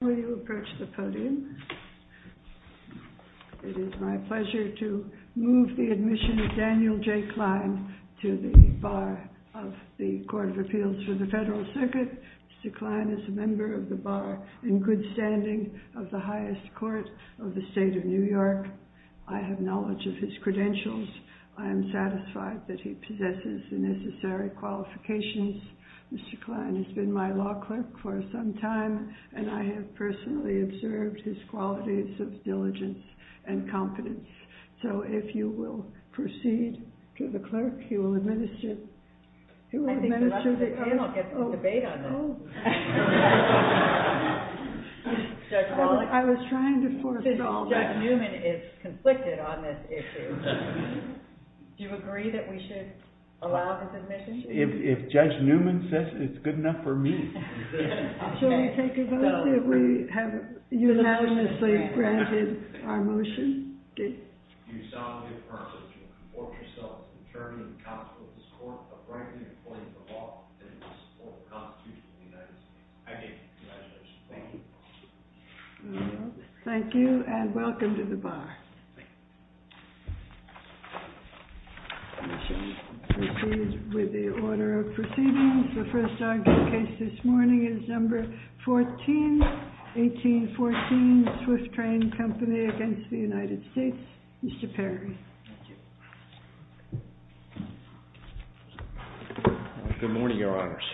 It is my pleasure to move the admission of Daniel J. Kline to the Bar of the Court of Appeals for the Federal Circuit. Mr. Kline is a member of the Bar in good standing of the highest court of the State of New York. I have knowledge of his credentials. I am satisfied that he possesses the necessary qualifications. Mr. Kline has been my law clerk for some time, and I have personally observed his qualities of diligence and competence. So if you will proceed to the clerk, he will administer the case. I think the rest of the panel gets to debate on this. I was trying to force it all back. Judge Newman is conflicted on this issue. Do you agree that we should allow his admission? If Judge Newman says it's good enough for me. Shall we take a vote that we have unanimously granted our motion? Do you solemnly affirm that you will conform yourself to the terms and consequences of this court of rightfully employing the law within the scope of the Constitution of the United States? I do. Congratulations. Thank you. Thank you, and welcome to the Bar. We shall proceed with the order of proceedings. The first argument case this morning is number 14, 1814, Swift Train Company against the United States. Mr. Perry. Thank you. Good morning, Your Honors.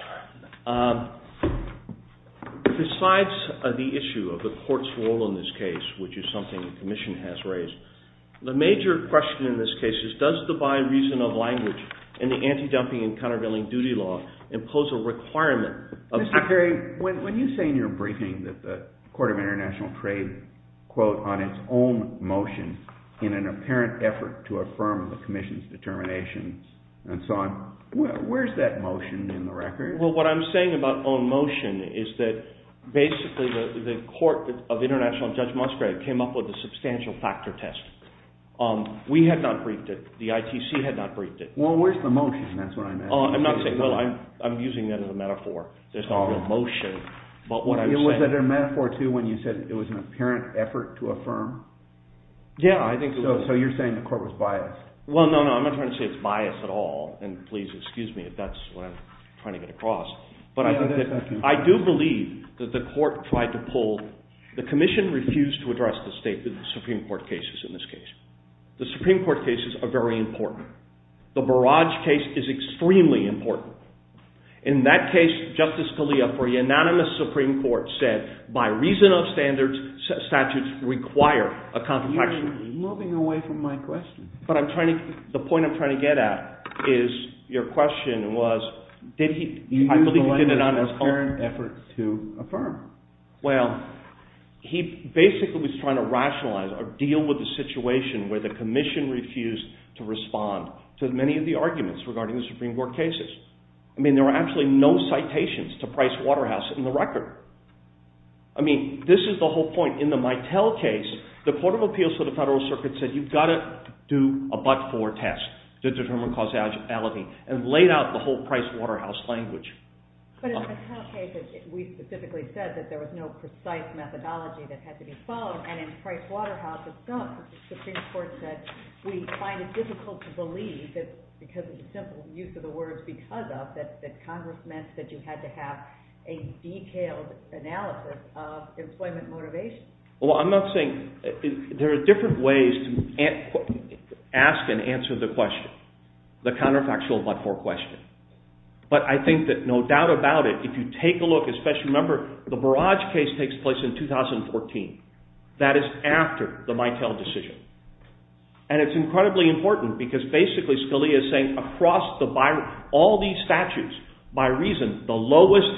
Besides the issue of the court's role in this case, which is something the Commission has raised, the major question in this case is does the bi-reasonal language in the anti-dumping and countervailing duty law impose a requirement of... Mr. Perry, when you say in your briefing that the Court of International Trade, quote, on its own motion, in an apparent effort to affirm the Commission's determination and so on, where's that motion in the record? Well, what I'm saying about own motion is that basically the Court of International and Judge Musgrave came up with a substantial factor test. We had not briefed it. The ITC had not briefed it. Well, where's the motion? That's what I meant. I'm not saying... I'm using that as a metaphor. There's no real motion, but what I'm saying... Was that a metaphor, too, when you said it was an apparent effort to affirm? Yeah, I think it was. So you're saying the Court was biased. Well, no, no, I'm not trying to say it's biased at all, and please excuse me if that's what I'm trying to get across, but I do believe that the Court tried to pull... The Commission refused to address the Supreme Court cases in this case. The Supreme Court cases are very important. The Barrage case is extremely important. In that case, Justice Scalia, for unanimous Supreme Court said, by reason of standards, statutes require a contraption. You're moving away from my question. But I'm trying to... The point I'm trying to get at is your question was, did he... I believe he did it on his own. You use the language of an apparent effort to affirm. Well, he basically was trying to rationalize or deal with the situation where the Commission refused to respond to many of the arguments regarding the Supreme Court cases. I mean, there were actually no citations to Price Waterhouse in the record. I mean, this is the whole point. In the Mitel case, the Court of Appeals to the Federal Circuit said you've got to do a but-for test to determine causality and laid out the whole Price Waterhouse language. But in the Mitel case, we specifically said that there was no precise methodology that had to be followed, and in Price Waterhouse, it's not. The Supreme Court said we find it difficult to believe, because of the simple use of the words because of, that Congress meant that you had to have a detailed analysis of employment motivation. Well, I'm not saying... There are different ways to ask and answer the question, the counterfactual but-for question. But I think that no doubt about it, if you take a look, especially remember, the Barrage case takes place in 2014. That is after the Mitel decision. And it's incredibly important, because basically Scalia is saying, across all these statutes, by reason, the lowest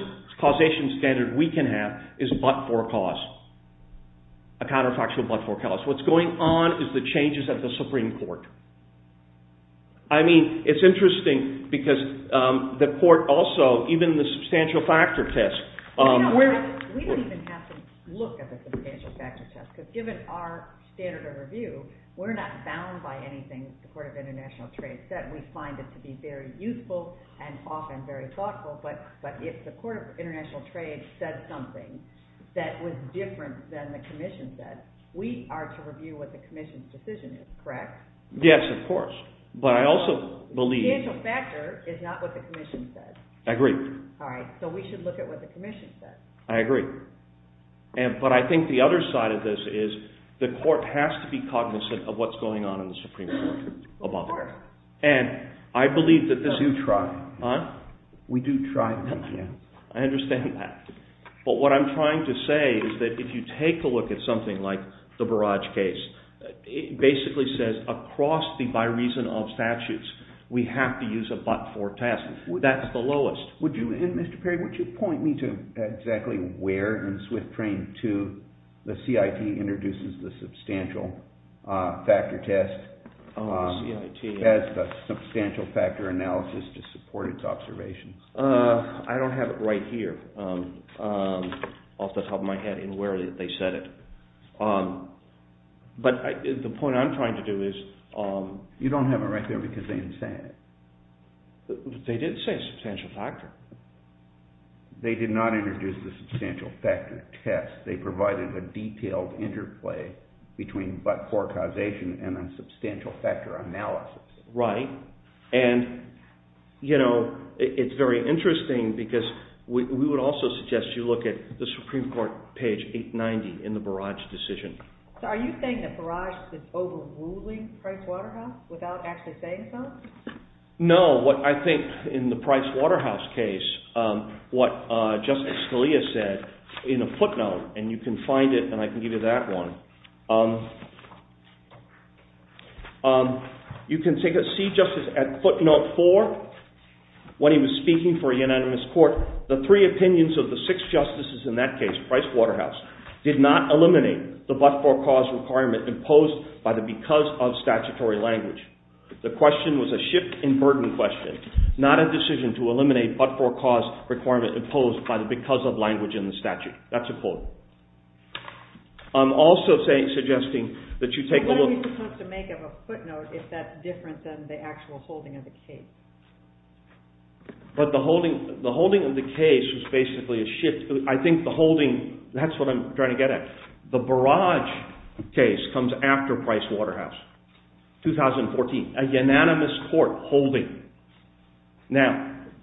causation standard we can have is but-for cause. A counterfactual but-for cause. What's going on is the changes of the Supreme Court. I mean, it's interesting, because the Court also, even the substantial factor test... We don't even have to look at the substantial factor test, because given our standard of review, we're not bound by anything the Court of International Trade said. We find it to be very useful and often very thoughtful, but if the Court of International Trade said something that was different than the Commission said, we are to review what the Commission's decision is, correct? Yes, of course. But I also believe... The substantial factor is not what the Commission said. I agree. So we should look at what the Commission said. I agree. But I think the other side of this is, the Court has to be cognizant of what's going on in the Supreme Court. Of course. And I believe that... We do try. I understand that. But what I'm trying to say is that if you take a look at something like the Barrage case, it basically says, across the by reason of statutes, we have to use a but-for test. That's the lowest. Mr. Perry, would you point me to exactly where in Swift Train 2 the CIT introduces the substantial factor test? As the substantial factor analysis to support its observations. I don't have it right here. Off the top of my head in where they said it. But the point I'm trying to do is... You don't have it right there because they didn't say it. They did say substantial factor. They did not introduce the substantial factor test. They provided a detailed interplay between but-for causation and a substantial factor analysis. Right. It's very interesting because we would also suggest you look at the Supreme Court page 890 in the Barrage decision. Are you saying that Barrage is overruling Price Waterhouse without actually saying so? No. I think in the Price Waterhouse case what Justice Scalia said in a footnote and you can find it and I can give you that one. You can see Justice at footnote 4 when he was speaking for a unanimous court the three opinions of the six justices in that case, Price Waterhouse did not eliminate the but-for-cause requirement imposed by the because of statutory language. The question was a shift in burden question not a decision to eliminate but-for-cause requirement imposed by the because of language in the statute. That's a quote. What are you supposed to make of a footnote if that's different than the actual holding of the case? The holding of the case was basically a shift. That's what I'm trying to get at. The Barrage case comes after Price Waterhouse. 2014. A unanimous court holding.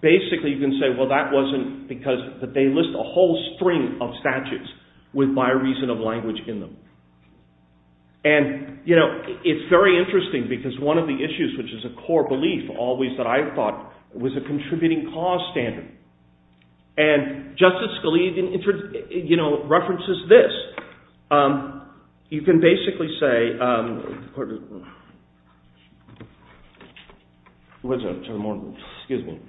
Basically you can say that wasn't because they list a whole string of statutes with my reason of language in them. It's very interesting because one of the issues which is a core belief that I thought was a contributing cause standard and Justice Scalia references this. You can basically say Excuse me.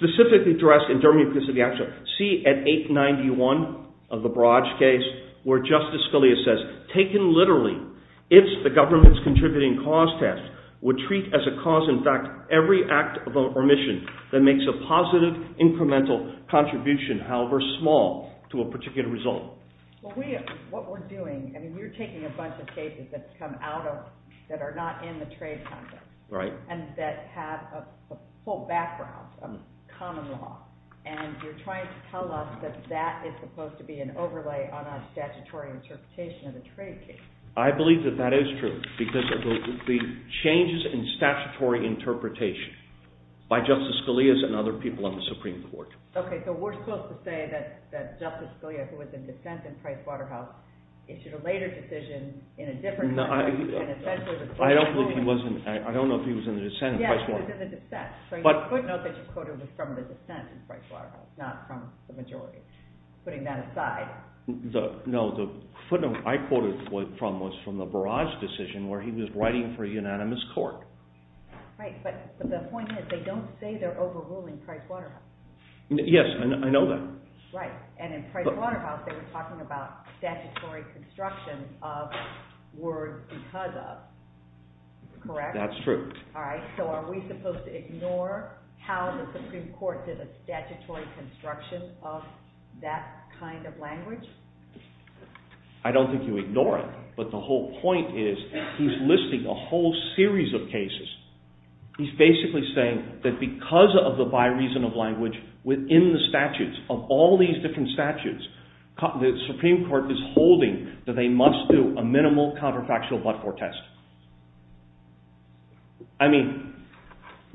Specifically addressed in See at 891 of the Barrage case where Justice Scalia says taken literally, if the government's contributing cause test would treat as a cause in fact every act of omission that makes a positive incremental contribution however small to a particular result. What we're doing, you're taking a bunch of cases that are not in the trade context and that have a full background of common law and you're trying to tell us that that is supposed to be an overlay on our statutory interpretation of the trade case. I believe that is true because the changes in statutory interpretation by Justice Scalia and other people in the Supreme Court. Okay, so we're supposed to say that Justice Scalia who was in dissent in Pricewaterhouse issued a later decision in a different time. I don't know if he was in dissent in Pricewaterhouse. Yes, he was in dissent. The footnote that you quoted was from the dissent in Pricewaterhouse, not from the majority. Putting that aside. No, the footnote I quoted was from the Barrage decision where he was writing for a unanimous court. But the point is they don't say they're overruling Pricewaterhouse. Yes, I know that. And in Pricewaterhouse they were talking about statutory construction of words because of. Correct? That's true. So are we supposed to ignore how the Supreme Court did a statutory construction of that kind of language? I don't think you ignore it, but the whole point is he's listing a whole series of cases. He's basically saying that because of the bi-reasonable language within the statutes of all these different statutes, the Supreme Court is holding that they must do a minimal counterfactual but-for test. I mean,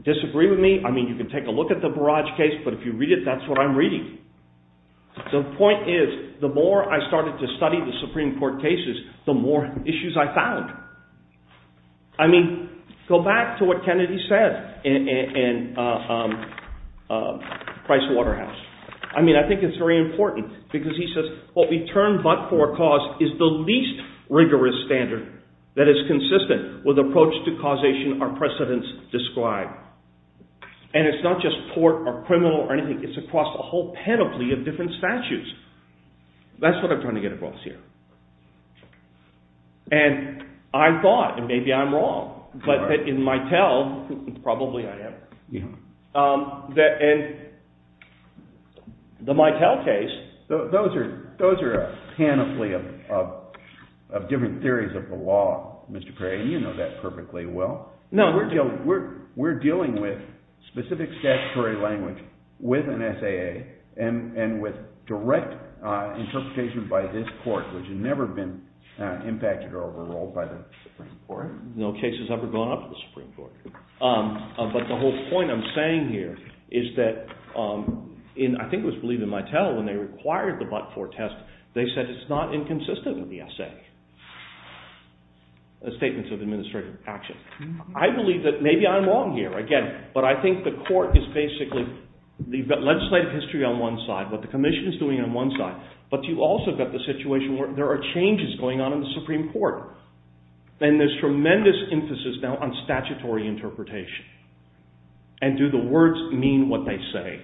disagree with me? I mean, you can take a look at the Barrage case, but if you read it, that's what I'm reading. The point is, the more I started to study the Supreme Court cases, the more issues I found. I mean, go back to what Kennedy said in Pricewaterhouse. I mean, I think it's very important because he says, what we term but-for cause is the least rigorous standard that is consistent with the approach to causation our precedents describe. And it's not just court or criminal or anything, it's across a whole panoply of different statutes. That's what I'm trying to get across here. And I thought, and maybe I'm wrong, but that in Mitel, probably I am, that in the Mitel case... Those are a panoply of different theories of the law, Mr. Craig, and you know that perfectly well. No, we're dealing with specific statutory language with an SAA and with direct interpretation by this court, which has never been impacted or overruled by the Supreme Court. No case has ever gone up to the Supreme Court. But the whole point I'm saying here is that I think it was believed in Mitel when they required the but-for test, they said it's not inconsistent with the SAA. The Statements of Administrative Action. I believe that maybe I'm wrong here, again, but I think the court is basically... You've got legislative history on one side, what the Commission is doing on one side, but you've also got the situation where there are changes going on in the Supreme Court. And there's tremendous emphasis now on statutory interpretation. And do the words mean what they say?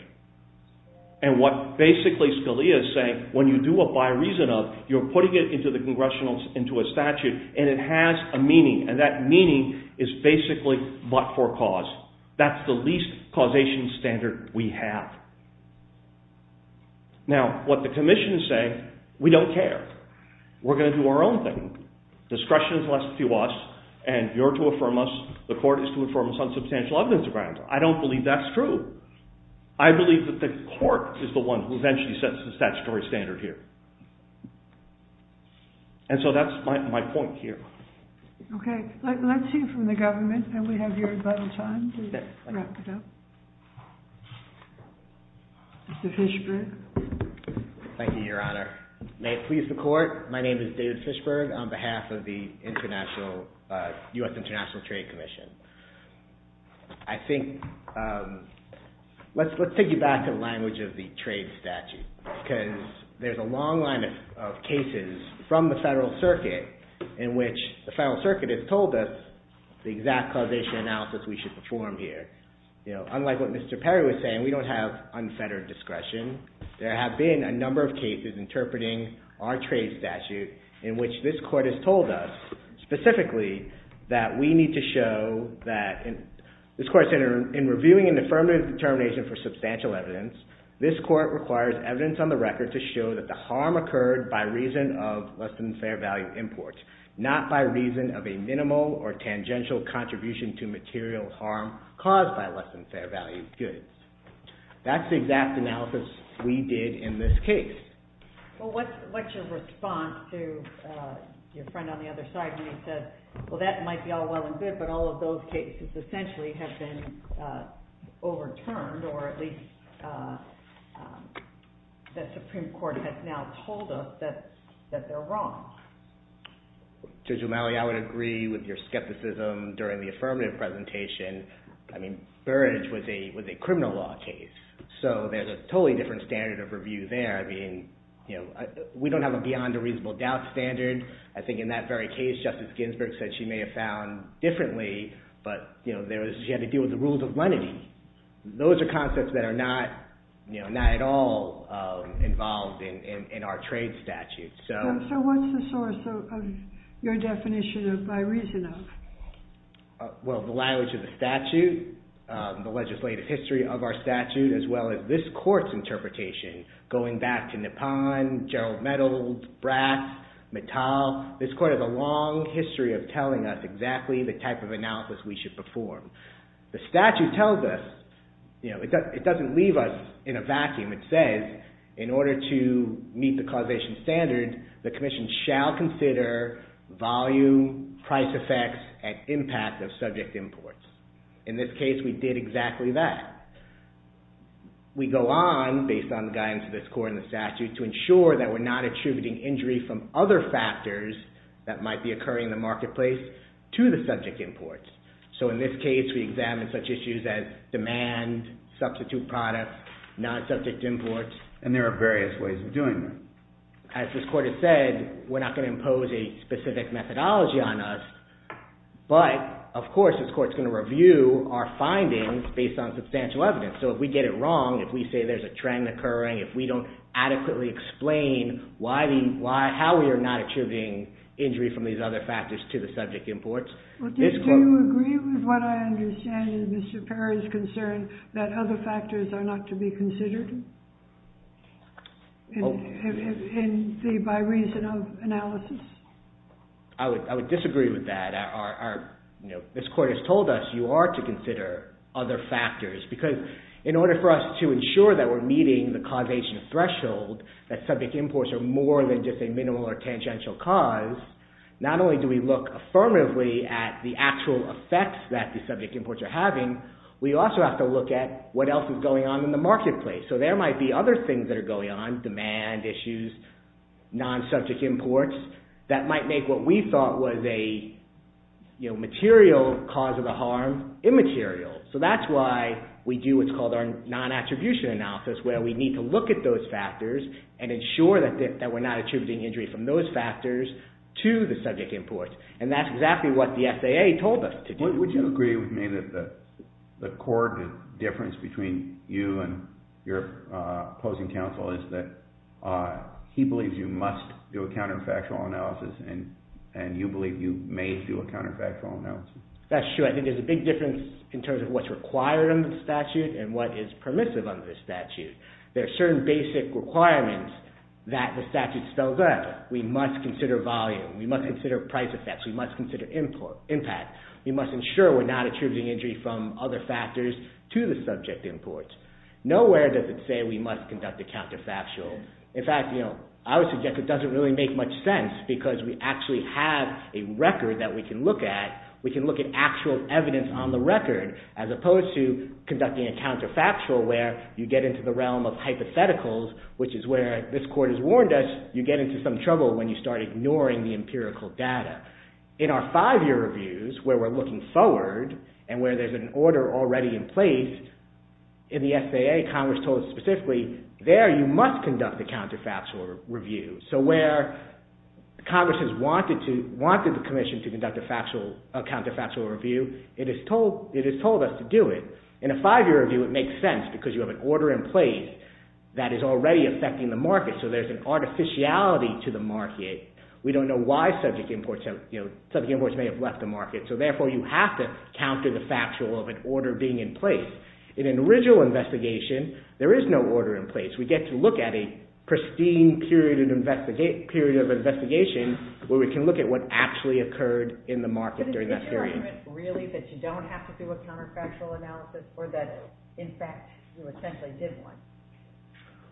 And what basically Scalia is saying, when you do a by reason of, you're putting it into a statute and it has a meaning, and that meaning is basically but-for cause. That's the least causation standard we have. Now, what the Commission is saying, we don't care. We're going to do our own thing. Discretion is left to us, and you're to affirm us, the court is to affirm us on substantial evidence grounds. I don't believe that's true. I believe that the court is the one who eventually sets the statutory standard here. And so that's my point here. Okay, let's hear from the government and we have your final time to wrap it up. Mr. Fishberg. Thank you, Your Honor. May it please the court, my name is David Fishberg on behalf of the US International Trade Commission. I think... Let's take you back to the language of the trade statute. Because there's a long line of cases from the Federal Circuit in which the Federal Circuit has told us the exact causation analysis we should perform here. Unlike what Mr. Perry was saying, we don't have unfettered discretion. There have been a number of cases interpreting our trade statute in which this court has told us specifically that we need to show that in reviewing an affirmative determination for substantial evidence, this court requires evidence on the record to show that the harm occurred by reason of less-than-fair-value imports, not by reason of a minimal or tangential contribution to material harm caused by less-than-fair-value goods. That's the exact analysis we did in this case. Well, what's your response to your friend on the other side when he says well that might be all well and good, but all of those cases essentially have been overturned or at least the Supreme Court has now told us that they're wrong? Judge O'Malley, I would agree with your skepticism during the affirmative presentation. Burrage was a criminal law case, so there's a totally different standard of review there. We don't have a beyond-a-reasonable-doubt standard. I think in that very case, Justice Ginsburg said she may have found differently, but she had to deal with the rules of lenity. Those are concepts that are not at all involved in our trade statute. So what's the source of your definition of by reason of? Well, the language of the statute, the legislative history of our statute as well as this court's interpretation going back to Nippon, Gerald Meadows, Brass, Mittal, this court has a long history of telling us exactly the type of analysis we should perform. The statute tells us, it doesn't leave us in a vacuum. It says in order to meet the causation standard, the commission shall consider volume, price effects and impact of subject imports. In this case, we did exactly that. We go on, based on the guidance of this court and the statute to ensure that we're not attributing injury from other factors that might be occurring in the marketplace to the subject imports. So in this case, we examine such issues as demand, substitute products, non-subject imports. And there are various ways of doing that. As this court has said, we're not going to impose a specific methodology on us but, of course, this court's going to review our findings based on substantial evidence. So if we get it wrong, if we say there's a trend occurring, if we don't adequately explain how we are not attributing injury from these other factors to the subject imports. Do you agree with what I understand is Mr. Perry's concern that other factors are not to be considered? By reason of analysis? This court has told us you are to consider other factors because in order for us to ensure that we're meeting the causation threshold, that subject imports are more than just a minimal or tangential cause, not only do we look affirmatively at the actual effects that the subject imports are having, we also have to look at what else is going on in the marketplace. So there might be other things that are going on, demand issues, non-subject imports, that might make what we thought was a material cause of the harm immaterial. So that's why we do what's called our non-attribution analysis where we need to look at those factors and ensure that we're not attributing injury from those factors to the subject imports. And that's exactly what the SAA told us to do. Would you agree with me that the core difference between you and your opposing counsel is that he believes you must do a counterfactual analysis and you believe you may do a counterfactual analysis? That's true. I think there's a big difference in terms of what's required under the statute and what is permissive under the statute. There are certain basic requirements that the statute spells out. We must consider volume. We must consider price effects. We must consider impact. We must ensure we're not attributing injury from other factors to the subject imports. Nowhere does it say we must conduct a counterfactual. In fact, I would suggest it doesn't really make much sense because we actually have a record that we can look at. We can look at actual evidence on the record as opposed to conducting a counterfactual where you get into the realm of hypotheticals, which is where this court has warned us you get into some trouble when you start ignoring the empirical data. In our five-year reviews where we're looking forward and where there's an order already in place, in the SAA, Congress told us specifically, there you must conduct a counterfactual review. So where Congress has wanted the commission to conduct a counterfactual review, it has told us to do it. In a five-year review, it makes sense because you have an order in place that is already affecting the market, so there's an artificiality to the market. We don't know why subject imports may have left the market, so therefore you have to counter the factual of an order being in place. In an original investigation, there is no order in place. We get to look at a pristine period of investigation where we can look at what actually occurred in the market during that period.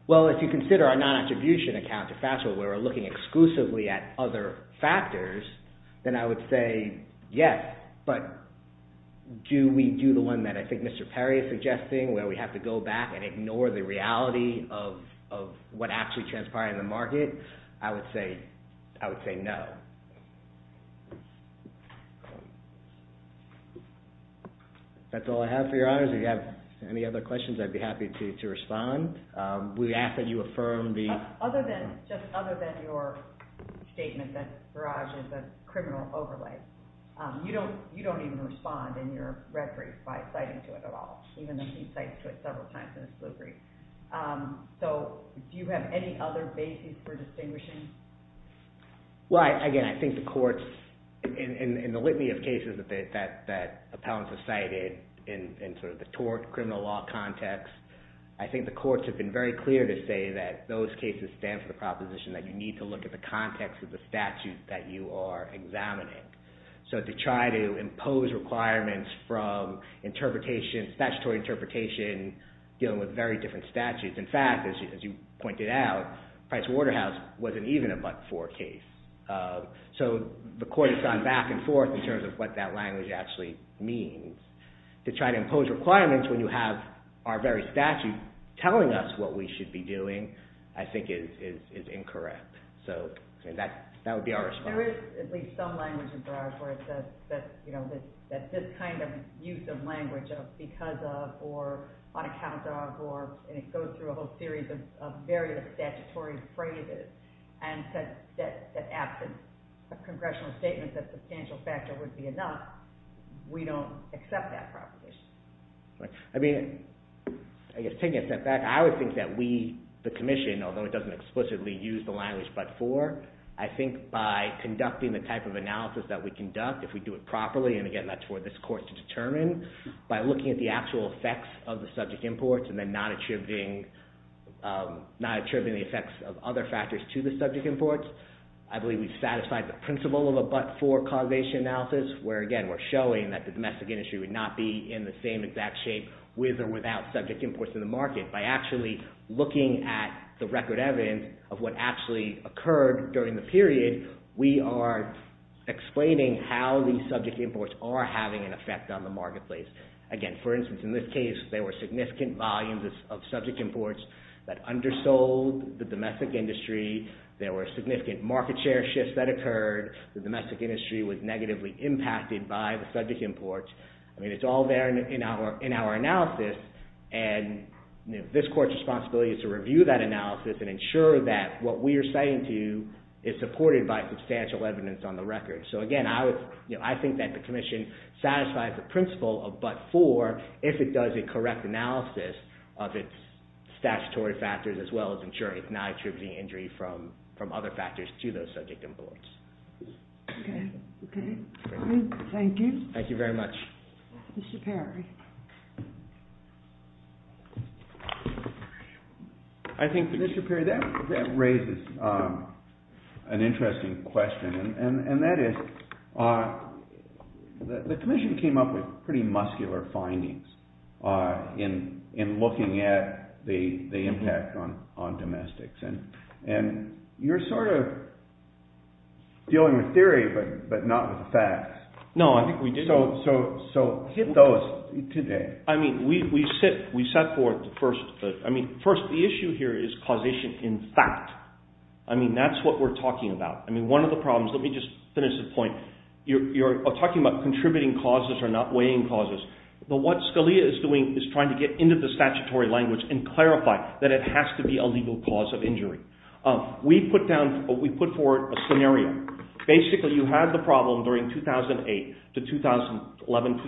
Well, if you consider our non-attribution account, where we're looking exclusively at other factors, then I would say, yes, but do we do the one that I think Mr. Perry is suggesting where we have to go back and ignore the reality of what actually transpired in the market? I would say no. That's all I have for your honors. If you have any other questions, I'd be happy to respond. Just other than your statement that Barrage is a criminal overlay, you don't even respond in your referees by citing to it at all, even though he cites to it several times in his blue brief. Do you have any other basis for distinguishing? Well, again, I think the courts in the litany of cases that appellants have cited in the tort, criminal law context, I think the courts have been very clear to say that those cases stand for the proposition that you need to look at the context of the statute that you are examining. So to try to impose requirements from statutory interpretation dealing with very different statutes. In fact, as you pointed out, Pricewaterhouse wasn't even a but-for case. So the court has gone back and forth in terms of what that language actually means. To try to impose requirements when you have our very statute telling us what we should be doing, I think is incorrect. That would be our response. There is at least some language in Barrage where it says that this kind of use of language of because of or on account of or it goes through a whole series of various statutory phrases and that absence of congressional statements that substantial factor would be enough, we don't accept that proposition. I mean, I guess taking a step back, I would think that we, the commission, although it doesn't explicitly use the language but-for, I think by conducting the type of analysis that we conduct, if we do it properly, and again that's for this court to determine, by looking at the actual effects of the subject imports and then not attributing the effects of other factors to the subject imports, I believe we've satisfied the principle of a but-for causation analysis where again we're showing that the domestic industry would not be in the same exact shape with or without subject imports in the market by actually looking at the record evidence of what actually occurred during the period, we are explaining how these subject imports are having an effect on the marketplace. Again, for instance, in this case, there were significant volumes of subject imports that undersold the domestic industry, there were significant market share shifts that were undertaken by the subject imports. I mean, it's all there in our analysis and this court's responsibility is to review that analysis and ensure that what we are citing to you is supported by substantial evidence on the record. So again, I think that the commission satisfies the principle of but-for if it does a correct analysis of its statutory factors as well as ensuring it's not attributing injury from other factors to those subject imports. Thank you. Thank you very much. Mr. Perry. I think, Mr. Perry, that raises an interesting question and that is the commission came up with pretty muscular findings in looking at the impact on domestics and you're sort of dealing with theory but not with facts. So hit those today. I mean, we set forth the first the issue here is causation in fact. I mean, that's what we're talking about. I mean, one of the problems let me just finish the point. You're talking about contributing causes and not weighing causes. But what Scalia is doing is trying to get into the statutory language and clarify that it has to be a legal cause of injury. We put forward a scenario. Basically, you had the problem during 2008 to 2011-2012,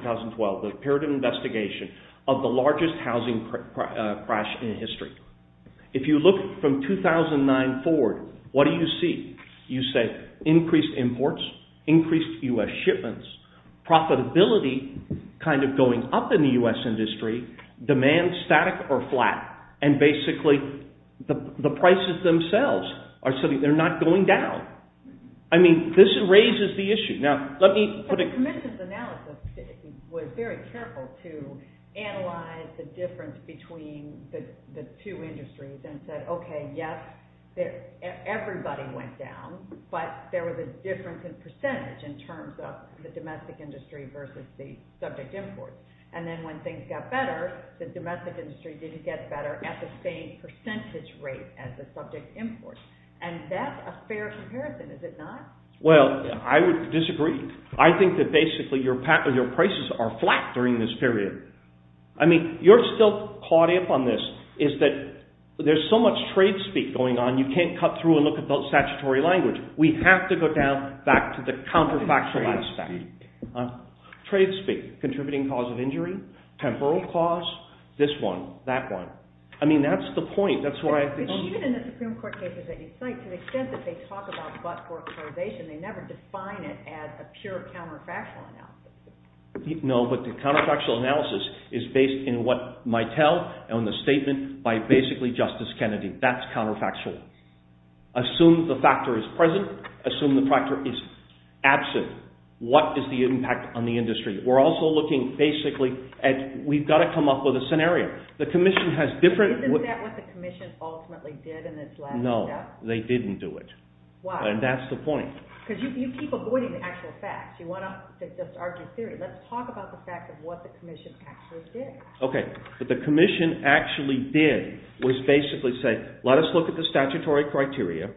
the period of investigation of the largest housing crash in history. If you look from 2009 forward, what do you see? You say increased imports, increased U.S. shipments, profitability kind of going up in the U.S. industry, demand static or flat, and basically the prices themselves are not going down. I mean, this raises the issue. The commission's analysis was very careful to analyze the difference between the two industries and said, okay, yes, everybody went down, but there was a difference in percentage in terms of the domestic industry versus the subject imports. And then when things got better, the domestic industry didn't get better at the same percentage rate as the subject imports. And that's a fair comparison, is it not? Well, I would disagree. I think that basically your prices are flat during this period. I mean, you're still caught up on this, is that there's so much trade speak going on, you can't cut through and look at the statutory language. We have to go down back to the counterfactual aspect. Trade speak, contributing cause of injury, temporal cause, this one, that one. I mean, that's the point. No, but the counterfactual analysis is based in what might tell on the statement by basically Justice Kennedy. That's counterfactual. Assume the factor is present, assume the factor is absent. What is the impact on the industry? We're also looking basically at, we've got to come up with a scenario. The Commission has different... Isn't that what the Commission ultimately did in this last step? No, they didn't do it. And that's the point. Because you keep avoiding the actual facts. You want to just argue theory. Let's talk about the fact of what the Commission actually did. Okay, but the Commission actually did was basically say, let us look at the statutory criteria,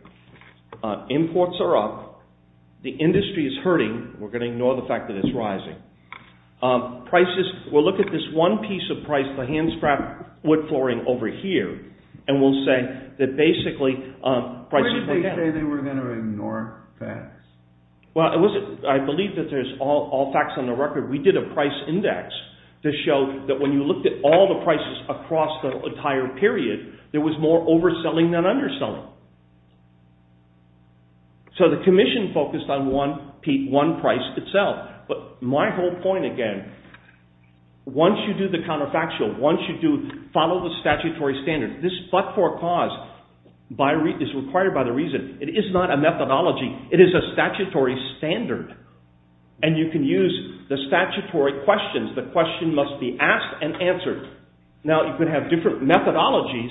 imports are up, the industry is hurting, we're going to ignore the fact that it's rising, prices, we'll look at this one piece of price, the hand-strapped wood flooring over here, and we'll say that basically... Where did they say they were going to ignore that? Well, I believe that there's all facts on the record. We did a price index to show that when you looked at all the prices across the entire period, there was more overselling than underselling. So the Commission focused on one price itself. But my whole point again, once you do the counterfactual, once you follow the statutory standards, this but-for-cause is required by the reason. It is not a methodology. It is a statutory standard. And you can use the statutory questions. The question must be asked and answered. Now, you could have different methodologies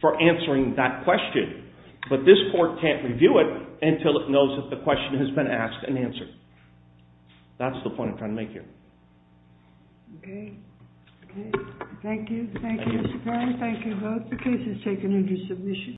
for answering that question, but this court can't review it until it knows that the question has been asked and answered. That's the point I'm trying to make here. Okay. Thank you. Thank you, Mr. Brown. Thank you both.